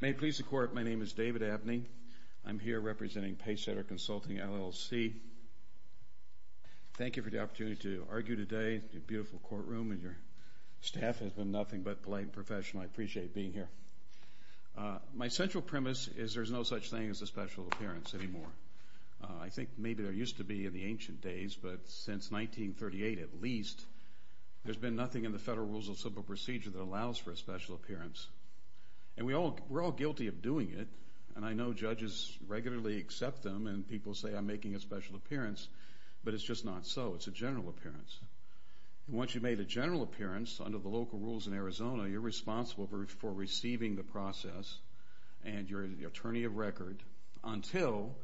May it please the Court, my name is David Abney. I'm here representing Pacesetter Consulting, LLC. Thank you for the opportunity to argue today in your beautiful courtroom. Your staff has been nothing but polite and professional. I appreciate being here. My central premise is there's no such thing as a special appearance anymore. I think maybe there used to be in the ancient days, but since 1938 at least, there's been nothing in the Federal Rules of Civil Procedure that allows for a special appearance. And we're all guilty of doing it, and I know judges regularly accept them, and people say I'm making a special appearance, but it's just not so. It's a general appearance. And once you've made a general appearance under the local rules in Arizona, you're responsible for receiving the process, and you're the attorney of record until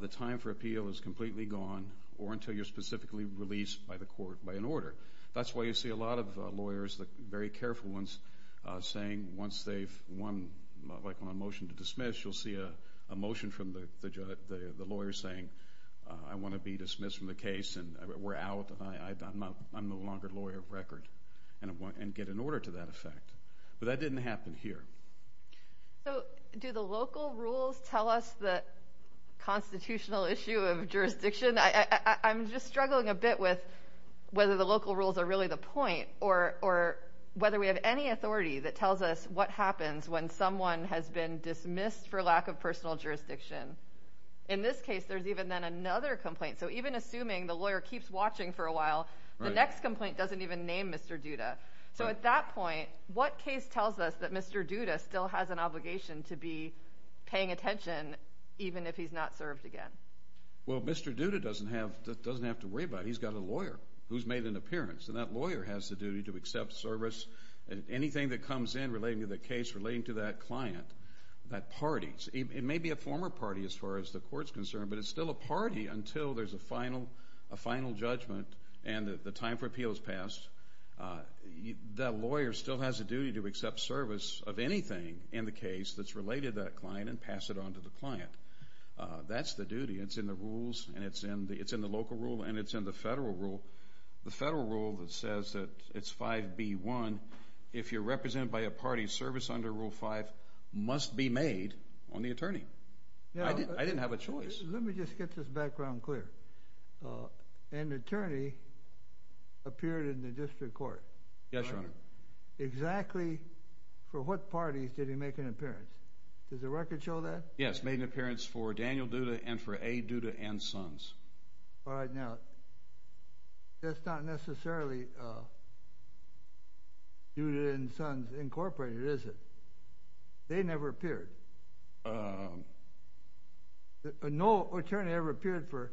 the time for appeal is completely gone or until you're specifically released by the court by an order. That's why you see a lot of lawyers, very careful ones, saying once they've won a motion to dismiss, you'll see a motion from the lawyer saying I want to be dismissed from the case, and we're out, and I'm no longer lawyer of record, and get an order to that effect. But that didn't happen here. So do the local rules tell us the constitutional issue of jurisdiction? I'm just struggling a bit with whether the local rules are really the point or whether we have any authority that tells us what happens when someone has been dismissed for lack of personal jurisdiction. In this case, there's even then another complaint. So even assuming the lawyer keeps watching for a while, the next complaint doesn't even name Mr. Duda. So at that point, what case tells us that Mr. Duda still has an obligation to be paying attention even if he's not served again? Well, Mr. Duda doesn't have to worry about it. He's got a lawyer who's made an appearance, and that lawyer has the duty to accept service. Anything that comes in relating to the case, relating to that client, that party, it may be a former party as far as the court's concerned, but it's still a party until there's a final judgment and the time for appeal has passed. That lawyer still has a duty to accept service of anything in the case that's related to that client and pass it on to the client. That's the duty. It's in the rules, and it's in the local rule, and it's in the federal rule. The federal rule that says that it's 5B1, if you're represented by a party, service under Rule 5 must be made on the attorney. I didn't have a choice. Let me just get this background clear. An attorney appeared in the district court. Yes, Your Honor. Exactly for what parties did he make an appearance? Does the record show that? Yes, made an appearance for Daniel Duda and for A. Duda and Sons. All right. Now, that's not necessarily Duda and Sons Incorporated, is it? They never appeared. No attorney ever appeared for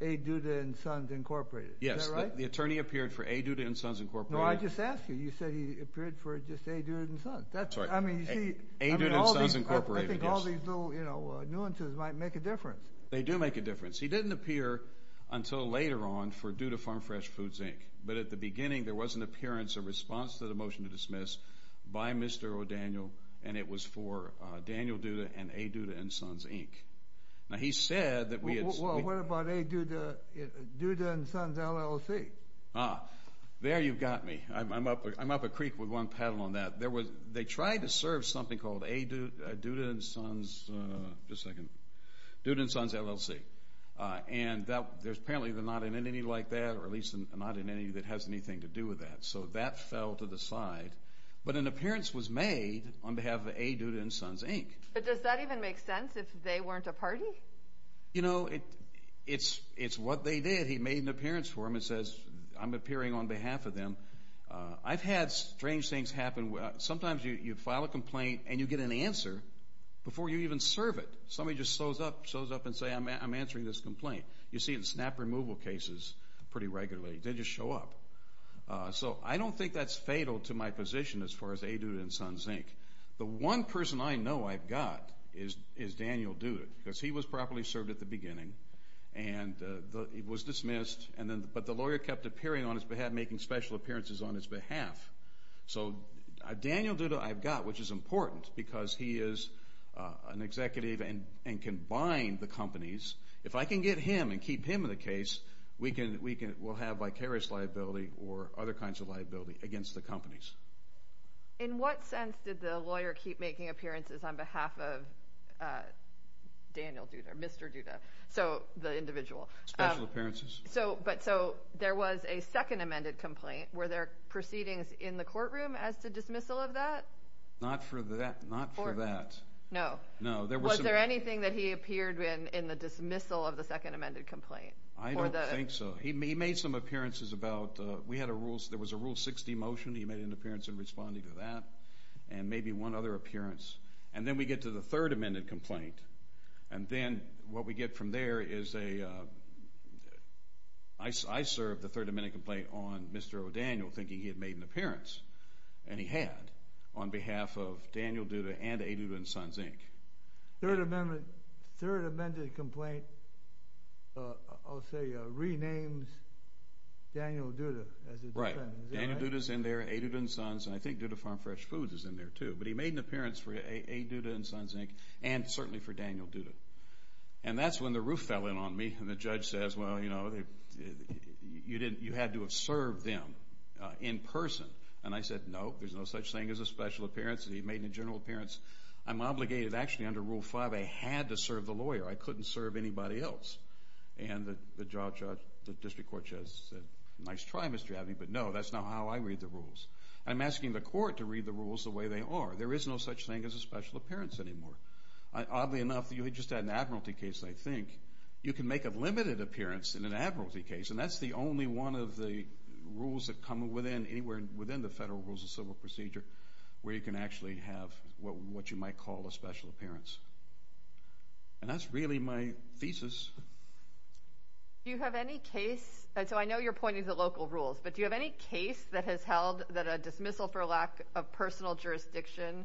A. Duda and Sons Incorporated, is that right? Yes. The attorney appeared for A. Duda and Sons Incorporated. No, I just asked you. You said he appeared for just A. Duda and Sons. That's right. I mean, you see. A. Duda and Sons Incorporated, yes. I think all these little, you know, nuances might make a difference. They do make a difference. He didn't appear until later on for Duda Farm Fresh Foods, Inc., but at the beginning there was an appearance, a response to the motion to dismiss by Mr. O'Daniel, and it was for Daniel Duda and A. Duda and Sons, Inc. Now, he said that we had... Well, what about A. Duda and Sons LLC? Ah, there you've got me. I'm up a creek with one paddle on that. They tried to serve something called A. Duda and Sons, just a second, Duda and Sons LLC, and there's apparently not an entity like that, or at least not an entity that has anything to do with that, so that fell to the side. But an appearance was made on behalf of A. Duda and Sons, Inc. But does that even make sense if they weren't a party? You know, it's what they did. He made an appearance for them and says, I'm appearing on behalf of them. I've had strange things happen. Sometimes you file a complaint and you get an answer before you even serve it. Somebody just shows up and says, I'm answering this complaint. You see it in snap removal cases pretty regularly. They just show up. So I don't think that's fatal to my position as far as A. Duda and Sons, Inc. The one person I know I've got is Daniel Duda because he was properly served at the beginning, and he was dismissed, but the lawyer kept appearing on his behalf, making special appearances on his behalf. So Daniel Duda I've got, which is important because he is an executive and can bind the companies. If I can get him and keep him in the case, we'll have vicarious liability or other kinds of liability against the companies. In what sense did the lawyer keep making appearances on behalf of Daniel Duda or Mr. Duda? So the individual. Special appearances. So there was a second amended complaint. Were there proceedings in the courtroom as to dismissal of that? Not for that. No. No. Was there anything that he appeared in in the dismissal of the second amended complaint? I don't think so. He made some appearances about we had a rule. There was a Rule 60 motion. He made an appearance in responding to that and maybe one other appearance. And then we get to the third amended complaint, and then what we get from there is a I served the third amended complaint on Mr. O'Daniel thinking he had made an appearance, and he had, on behalf of Daniel Duda and A. Duda and Sons, Inc. Third amended complaint, I'll say, renames Daniel Duda as a defendant. Right. Daniel Duda is in there, A. Duda and Sons, and I think Duda Farm Fresh Foods is in there, too. But he made an appearance for A. Duda and Sons, Inc., and certainly for Daniel Duda. And that's when the roof fell in on me and the judge says, well, you know, you had to have served them in person. And I said, no, there's no such thing as a special appearance. He made a general appearance. I'm obligated, actually, under Rule 5A, had to serve the lawyer. I couldn't serve anybody else. And the district court judge said, nice try, Mr. Abney, but no, that's not how I read the rules. I'm asking the court to read the rules the way they are. There is no such thing as a special appearance anymore. Oddly enough, you just had an admiralty case, I think. You can make a limited appearance in an admiralty case, and that's the only one of the rules that come within the Federal Rules of Civil Procedure where you can actually have what you might call a special appearance. And that's really my thesis. Do you have any case? And so I know you're pointing to local rules, but do you have any case that has held that a dismissal for lack of personal jurisdiction,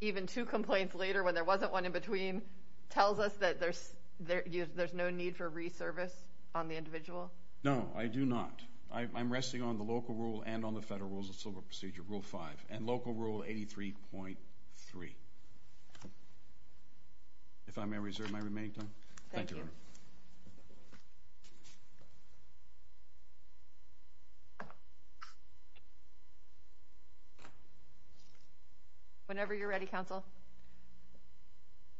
even two complaints later when there wasn't one in between, tells us that there's no need for re-service on the individual? No, I do not. I'm resting on the local rule and on the Federal Rules of Civil Procedure, Rule 5, and Local Rule 83.3. If I may reserve my remaining time. Thank you. Whenever you're ready, Counsel.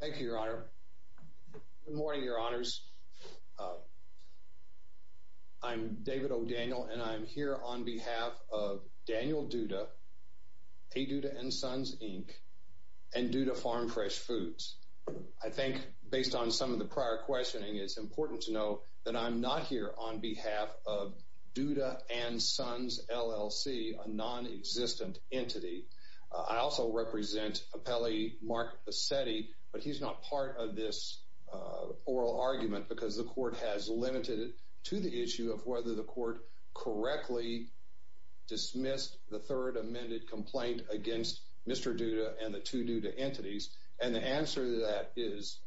Thank you, Your Honor. Good morning, Your Honors. I'm David O'Daniel, and I'm here on behalf of Daniel Duda, A. Duda and Sons, Inc., and Duda Farm Fresh Foods. I think, based on some of the prior questioning, it's important to know that I'm not here on behalf of Duda and Sons, LLC, a nonexistent entity. I also represent Appellee Mark Bassetti, but he's not part of this oral argument because the court has limited it to the issue of whether the court correctly dismissed the third amended complaint against Mr. Duda and the two Duda entities. And the answer to that is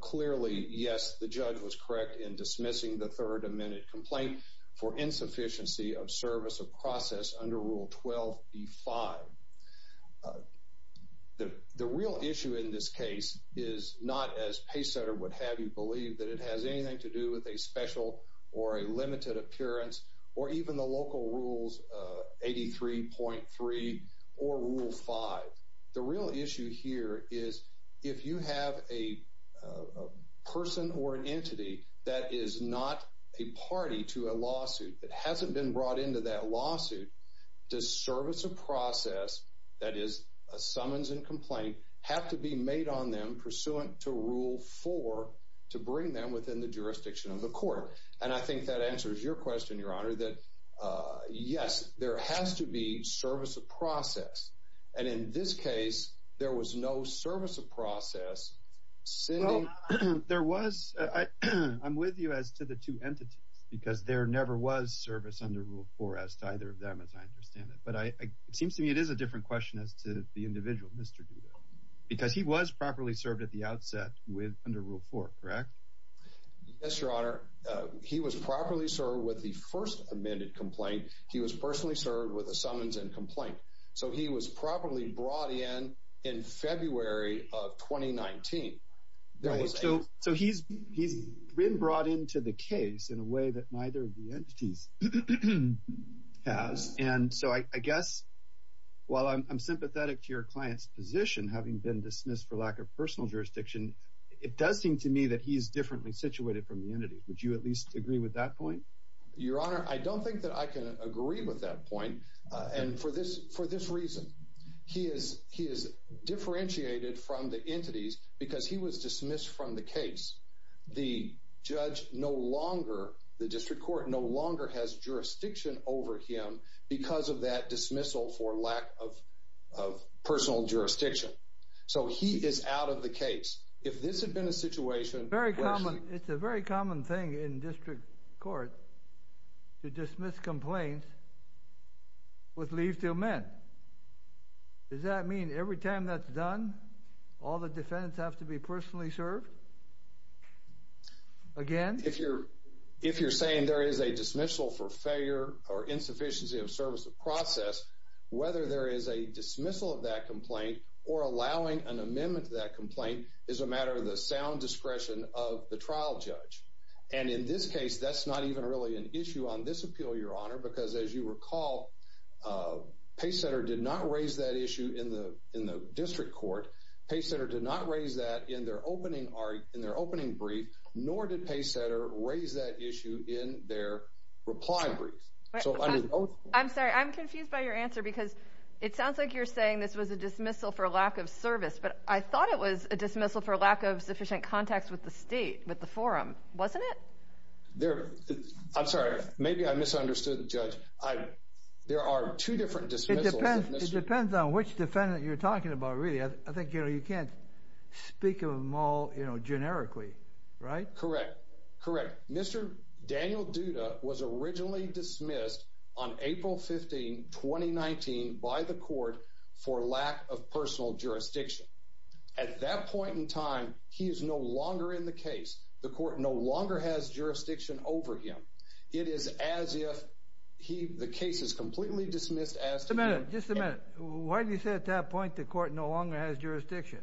clearly, yes, the judge was correct in dismissing the third amended complaint for insufficiency of service of process under Rule 12b-5. The real issue in this case is not, as Pace Center would have you believe, that it has anything to do with a special or a limited appearance or even the Local Rules 83.3 or Rule 5. The real issue here is if you have a person or an entity that is not a party to a lawsuit that hasn't been brought into that lawsuit, does service of process, that is a summons and complaint, have to be made on them pursuant to Rule 4 to bring them within the jurisdiction of the court? And I think that answers your question, Your Honor, that, yes, there has to be service of process. And in this case, there was no service of process. Well, there was. I'm with you as to the two entities, because there never was service under Rule 4 as to either of them, as I understand it. But it seems to me it is a different question as to the individual, Mr. Duda, because he was properly served at the outset under Rule 4, correct? Yes, Your Honor. He was properly served with the first amended complaint. He was personally served with a summons and complaint. So he was properly brought in in February of 2019. So he's been brought into the case in a way that neither of the entities has. And so I guess while I'm sympathetic to your client's position, having been dismissed for lack of personal jurisdiction, it does seem to me that he is differently situated from the entity. Would you at least agree with that point? Your Honor, I don't think that I can agree with that point. And for this reason, he is differentiated from the entities because he was dismissed from the case. The judge no longer, the district court no longer has jurisdiction over him because of that dismissal for lack of personal jurisdiction. So he is out of the case. If this had been a situation where she— with leave to amend, does that mean every time that's done, all the defendants have to be personally served again? If you're saying there is a dismissal for failure or insufficiency of service of process, whether there is a dismissal of that complaint or allowing an amendment to that complaint is a matter of the sound discretion of the trial judge. And in this case, that's not even really an issue on this appeal, Your Honor, because as you recall, Paycenter did not raise that issue in the district court. Paycenter did not raise that in their opening brief, nor did Paycenter raise that issue in their reply brief. I'm sorry, I'm confused by your answer because it sounds like you're saying this was a dismissal for lack of service, but I thought it was a dismissal for lack of sufficient context with the state, with the forum, wasn't it? I'm sorry, maybe I misunderstood the judge. There are two different dismissals. It depends on which defendant you're talking about, really. I think, you know, you can't speak of them all, you know, generically, right? Correct, correct. Mr. Daniel Duda was originally dismissed on April 15, 2019, by the court for lack of personal jurisdiction. At that point in time, he is no longer in the case. The court no longer has jurisdiction over him. It is as if the case is completely dismissed as to him. Just a minute, just a minute. Why do you say at that point the court no longer has jurisdiction?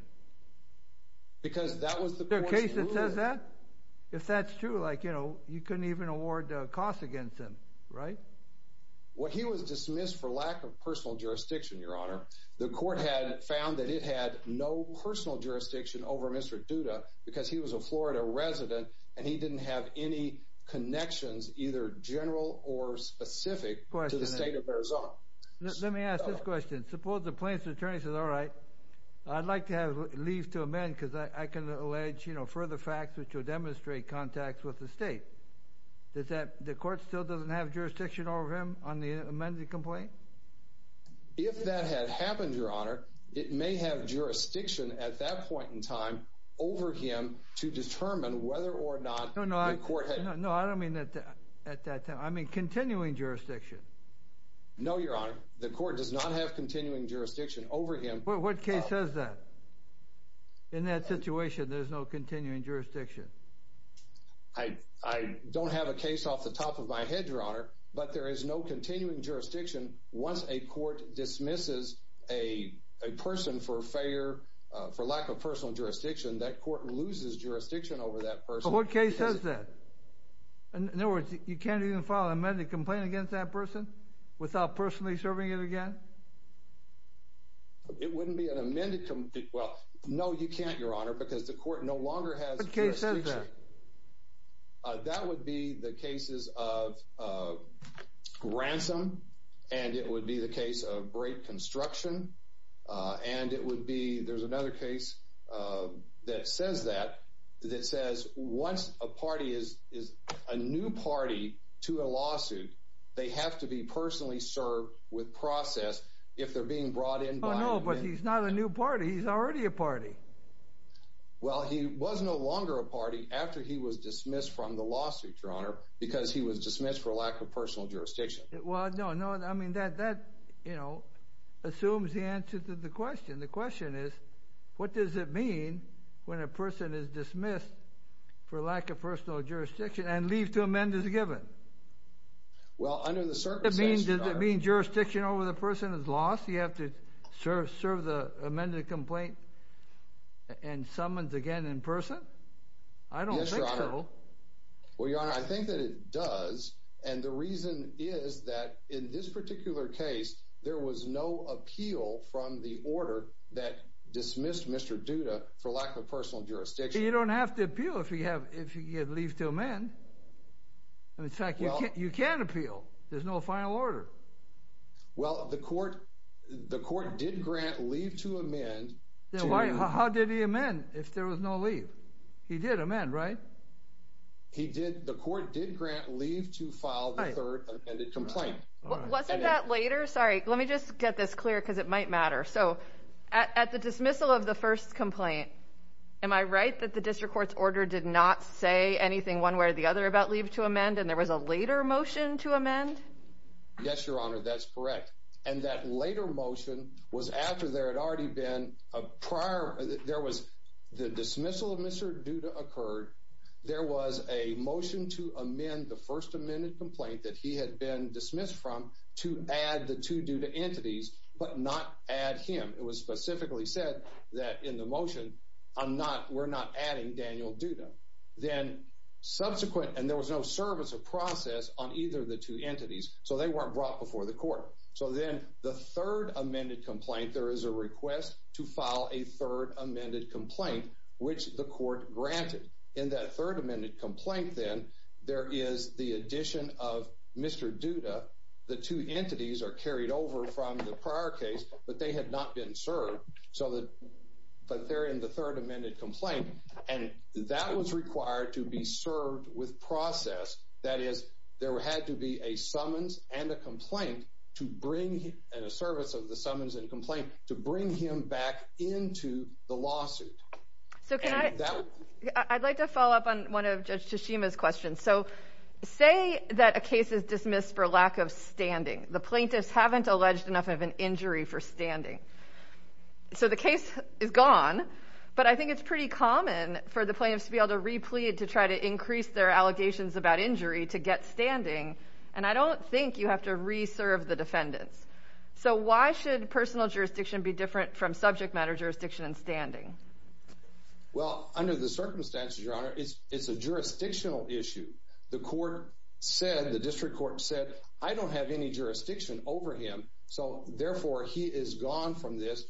Because that was the court's ruling. Is there a case that says that? If that's true, like, you know, you couldn't even award costs against him, right? Well, he was dismissed for lack of personal jurisdiction, Your Honor. The court had found that it had no personal jurisdiction over Mr. Duda because he was a Florida resident and he didn't have any connections, either general or specific, to the state of Arizona. Let me ask this question. Suppose the plaintiff's attorney says, all right, I'd like to have leave to amend because I can allege, you know, further facts which will demonstrate contacts with the state. The court still doesn't have jurisdiction over him on the amended complaint? If that had happened, Your Honor, it may have jurisdiction at that point in time over him to determine whether or not the court had. No, I don't mean at that time. I mean continuing jurisdiction. No, Your Honor. The court does not have continuing jurisdiction over him. What case says that? In that situation, there's no continuing jurisdiction. I don't have a case off the top of my head, Your Honor, but there is no continuing jurisdiction once a court dismisses a person for lack of personal jurisdiction. That court loses jurisdiction over that person. What case says that? In other words, you can't even file an amended complaint against that person without personally serving it again? It wouldn't be an amended complaint. Well, no, you can't, Your Honor, because the court no longer has jurisdiction. What case says that? That would be the cases of ransom, and it would be the case of break construction, and it would be there's another case that says that, that says once a party is a new party to a lawsuit, they have to be personally served with process if they're being brought in. Oh, no, but he's not a new party. He's already a party. Well, he was no longer a party after he was dismissed from the lawsuit, Your Honor, because he was dismissed for lack of personal jurisdiction. Well, no, no, I mean that, you know, assumes the answer to the question. The question is what does it mean when a person is dismissed for lack of personal jurisdiction and leave to amend is given? Well, under the circumstances, Your Honor. Does it mean jurisdiction over the person is lost? You have to serve the amended complaint and summoned again in person? I don't think so. Yes, Your Honor. Well, Your Honor, I think that it does, and the reason is that in this particular case, there was no appeal from the order that dismissed Mr. Duda for lack of personal jurisdiction. You don't have to appeal if you leave to amend. In fact, you can appeal. There's no final order. Well, the court did grant leave to amend. How did he amend if there was no leave? He did amend, right? He did. The court did grant leave to file the third amended complaint. Wasn't that later? Sorry, let me just get this clear because it might matter. So at the dismissal of the first complaint, am I right that the district court's order did not say anything one way or the other about leave to amend and there was a later motion to amend? Yes, Your Honor, that's correct. And that later motion was after there had already been a prior, there was the dismissal of Mr. Duda occurred, there was a motion to amend the first amended complaint that he had been dismissed from to add the two Duda entities but not add him. It was specifically said that in the motion, I'm not, we're not adding Daniel Duda. Then subsequent, and there was no service of process on either of the two entities. So they weren't brought before the court. So then the third amended complaint, there is a request to file a third amended complaint, which the court granted in that third amended complaint. Then there is the addition of Mr. Duda. The two entities are carried over from the prior case, but they had not been served. So that, but they're in the third amended complaint. And that was required to be served with process. That is, there had to be a summons and a complaint to bring in a service of the summons and complaint to bring him back into the lawsuit. So can I, I'd like to follow up on one of Judge Tashima's questions. So say that a case is dismissed for lack of standing. The plaintiffs haven't alleged enough of an injury for standing. So the case is gone, but I think it's pretty common for the plaintiffs to be able to replete, to try to increase their allegations about injury, to get standing. And I don't think you have to re-serve the defendants. So why should personal jurisdiction be different from subject matter jurisdiction and standing? Well, under the circumstances, Your Honor, it's a jurisdictional issue. The court said, the district court said, I don't have any jurisdiction over him. So therefore he is gone from this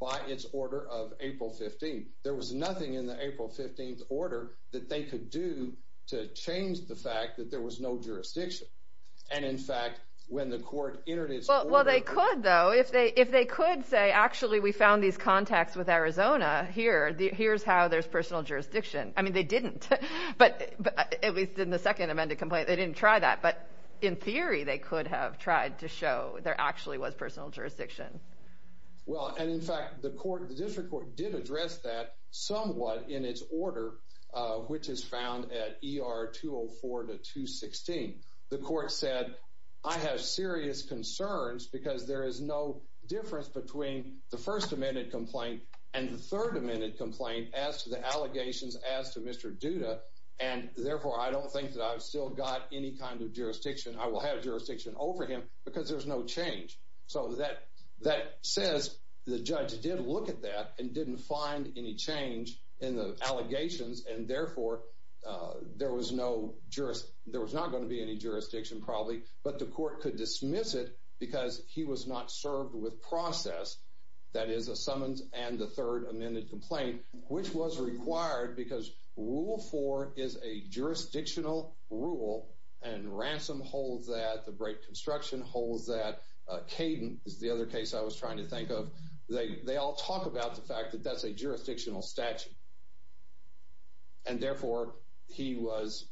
by its order of April 15th. There was nothing in the April 15th order that they could do to change the fact that there was no jurisdiction. And in fact, when the court entered its order. Well, they could though, if they, if they could say, actually, we found these contacts with Arizona here, here's how there's personal jurisdiction. I mean, they didn't, but at least in the second amended complaint, they didn't try that. But in theory, they could have tried to show there actually was personal jurisdiction. Well, and in fact, the court, the district court did address that somewhat in its order, which is found at ER 204 to 216. The court said, I have serious concerns because there is no difference between the first amendment complaint and the third amendment complaint as to the allegations as to Mr. Duda. And therefore I don't think that I've still got any kind of jurisdiction. I will have jurisdiction over him because there's no change. So that, that says the judge did look at that and didn't find any change in the allegations. And therefore there was no jurist. There was not going to be any jurisdiction probably, but the court could dismiss it because he was not served with process. That is a summons and the third amended complaint, Which was required because rule four is a jurisdictional rule and ransom holds that the break construction holds that Caden is the other case I was trying to think of. They all talk about the fact that that's a jurisdictional statute. And therefore he was,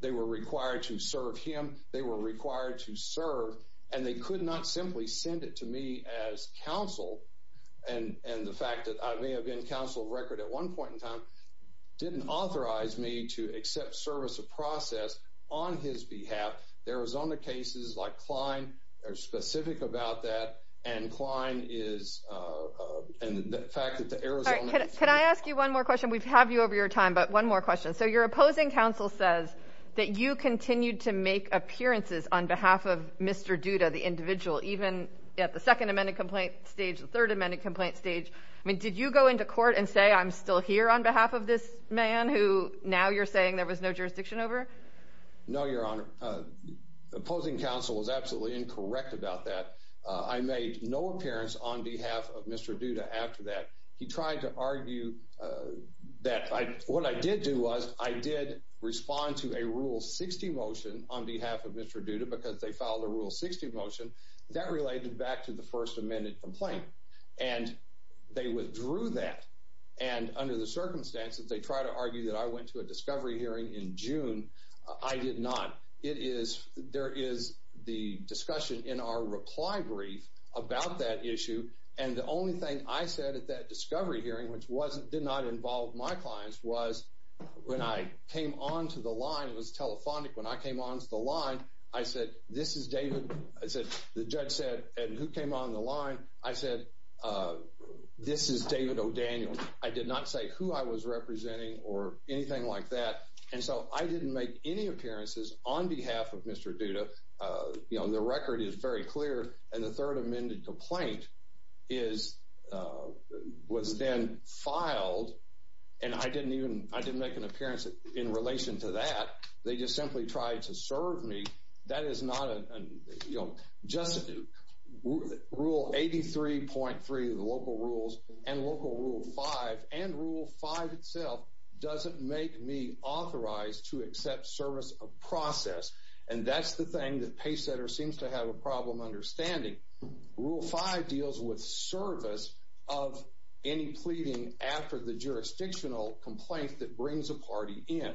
they were required to serve him. They were required to serve and they could not simply send it to me as counsel. And, and the fact that I may have been counsel of record at one point in time didn't authorize me to accept service of process on his behalf. There was on the cases like Klein are specific about that. And Klein is, uh, and the fact that the Arizona, can I ask you one more question? We've have you over your time, but one more question. So your opposing counsel says that you continued to make appearances on behalf of Mr. Duda, the individual, even at the second amended complaint stage, the third amended complaint stage. I mean, did you go into court and say, I'm still here on behalf of this man who now you're saying there was no jurisdiction over? No, your honor opposing counsel was absolutely incorrect about that. Uh, I made no appearance on behalf of Mr. Duda. After that, he tried to argue, uh, that I, what I did do was I did respond to a rule 60 motion on behalf of Mr. Duda because they filed a rule 60 motion that related back to the first amended complaint and they withdrew that. And under the circumstances, they try to argue that I went to a discovery hearing in June. I did not. It is, there is the discussion in our reply brief about that issue. And the only thing I said at that discovery hearing, which wasn't did not involve my clients was when I came onto the line, it was telephonic. When I came onto the line, I said, this is David. I said, the judge said, and who came on the line? I said, uh, this is David O'Daniel. I did not say who I was representing or anything like that. And so I didn't make any appearances on behalf of Mr. Duda. Uh, you know, the record is very clear. And the third amended complaint is, uh, was then filed. And I didn't even, I didn't make an appearance in relation to that. They just simply tried to serve me. That is not an, you know, just rule 83.3, the local rules and local rule five and rule five itself. Doesn't make me authorized to accept service of process. And that's the thing that paysetter seems to have a problem. Understanding rule five deals with service of any pleading after the jurisdictional complaint that brings a party in.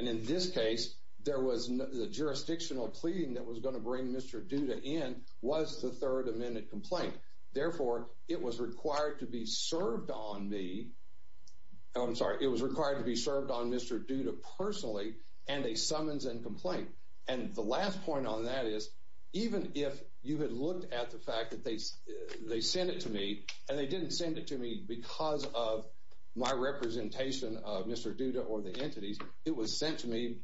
And in this case, there was the jurisdictional pleading that was going to bring Mr. Duda in was the third amendment complaint. Therefore it was required to be served on me. Oh, I'm sorry. It was required to be served on Mr. Duda personally and a summons and complaint. And the last point on that is even if you had looked at the fact that they, they sent it to me and they didn't send it to me because of my representation of Mr. Duda or the entities. It was sent to me,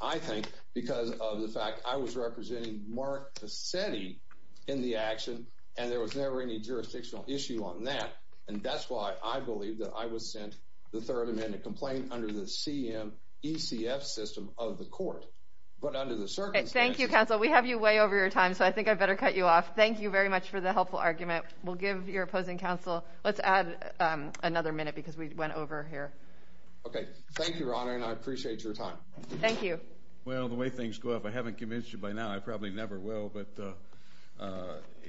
I think because of the fact I was representing Mark to SETI in the action. And there was never any jurisdictional issue on that. And that's why I believe that I was sent the third amendment complaint under the CM ECF system of the court, but under the circumstance, thank you counsel. We have you way over your time. So I think I better cut you off. Thank you very much for the helpful argument. We'll give your opposing counsel. Let's add another minute because we went over here. Okay. Thank you, your honor. And I appreciate your time. Thank you. Well, the way things go up, I haven't convinced you by now. I probably never will, but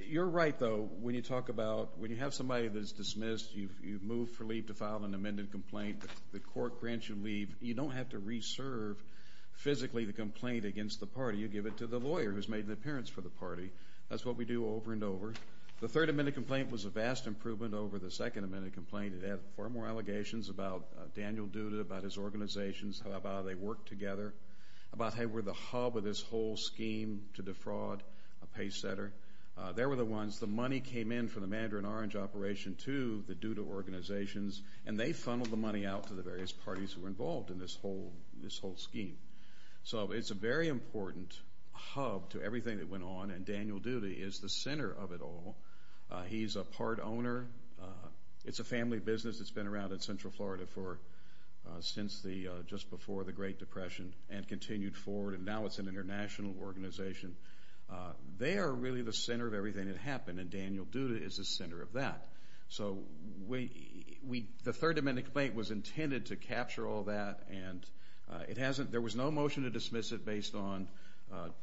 you're right though. When you talk about when you have somebody that's dismissed, you've, you've moved for leave to file an amended complaint. The court grants you leave. You don't have to reserve physically the complaint against the party. You give it to the lawyer who's made the appearance for the party. That's what we do over and over. The third amendment complaint was a vast improvement over the second amendment complaint. It had far more allegations about Daniel Duda, about his organizations, about how they work together, about how they were the hub of this whole scheme to defraud a pay setter. They were the ones, the money came in from the Mandarin Orange operation to the Duda organizations, and they funneled the money out to the various parties who were involved in this whole scheme. So it's a very important hub to everything that went on, and Daniel Duda is the center of it all. He's a part owner. It's a family business that's been around in Central Florida for, since the, just before the Great Depression and continued forward, and now it's an international organization. They are really the center of everything that happened, and Daniel Duda is the center of that. So we, we, the third amendment complaint was intended to capture all that, and it hasn't, there was no motion to dismiss it based on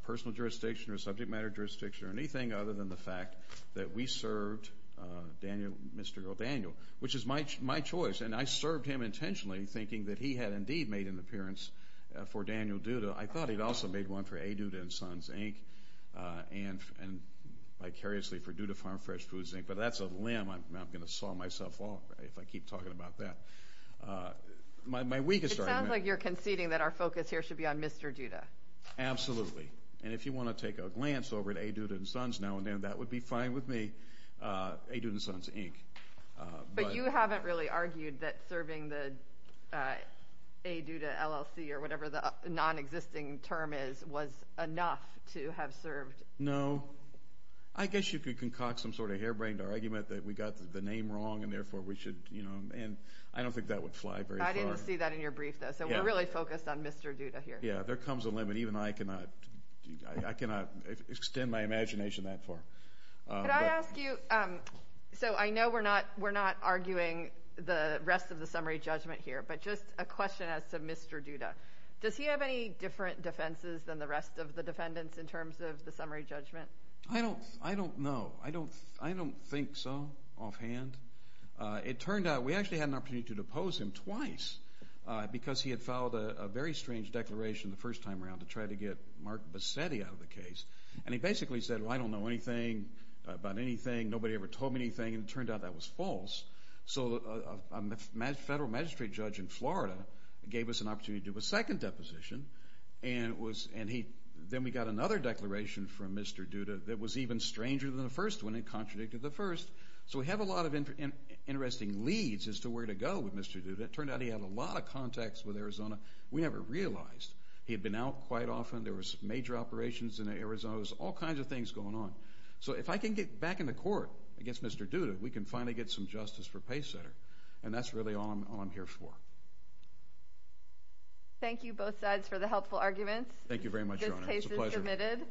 personal jurisdiction or subject matter jurisdiction or anything other than the fact that we served Daniel Mr. O'Daniel, which is my choice, and I served him intentionally thinking that he had indeed made an appearance for Daniel Duda. I thought he'd also made one for A Duda and Sons, Inc., and vicariously for Duda Farm Fresh Foods, Inc., but that's a limb I'm going to saw myself off, if I keep talking about that. My week is starting now. It sounds like you're conceding that our focus here should be on Mr. Duda. Absolutely, and if you want to take a glance over at A Duda and Sons now and then, that would be fine with me. A Duda and Sons, Inc. But you haven't really argued that serving the A Duda LLC, or whatever the non-existing term is, was enough to have served. No. I guess you could concoct some sort of harebrained argument that we got the name wrong, and therefore we should, you know, and I don't think that would fly very far. I didn't see that in your brief, though, so we're really focused on Mr. Duda here. Yeah, there comes a limit. Even I cannot, I cannot extend my imagination that far. Could I ask you, so I know we're not arguing the rest of the summary judgment here, but just a question as to Mr. Duda. Does he have any different defenses than the rest of the defendants in terms of the summary judgment? I don't know. I don't think so offhand. It turned out we actually had an opportunity to depose him twice because he had filed a very strange declaration the first time around to try to get Mark Bassetti out of the case, and he basically said, well, I don't know anything about anything. Nobody ever told me anything, and it turned out that was false, so a federal magistrate judge in Florida gave us an opportunity to do a second deposition, and it was, and he, then we got another declaration from Mr. Duda that was even stranger than the first one. It contradicted the first, so we have a lot of interesting leads as to where to go with Mr. Duda. It turned out he had a lot of contacts with Arizona. We never realized. He had been out quite often. There was major operations in Arizona. There was all kinds of things going on, so if I can get back in the court against Mr. Duda, we can finally get some justice for Pace Setter, and that's really all I'm here for. Thank you both sides for the helpful arguments. It was a pleasure. This case is submitted.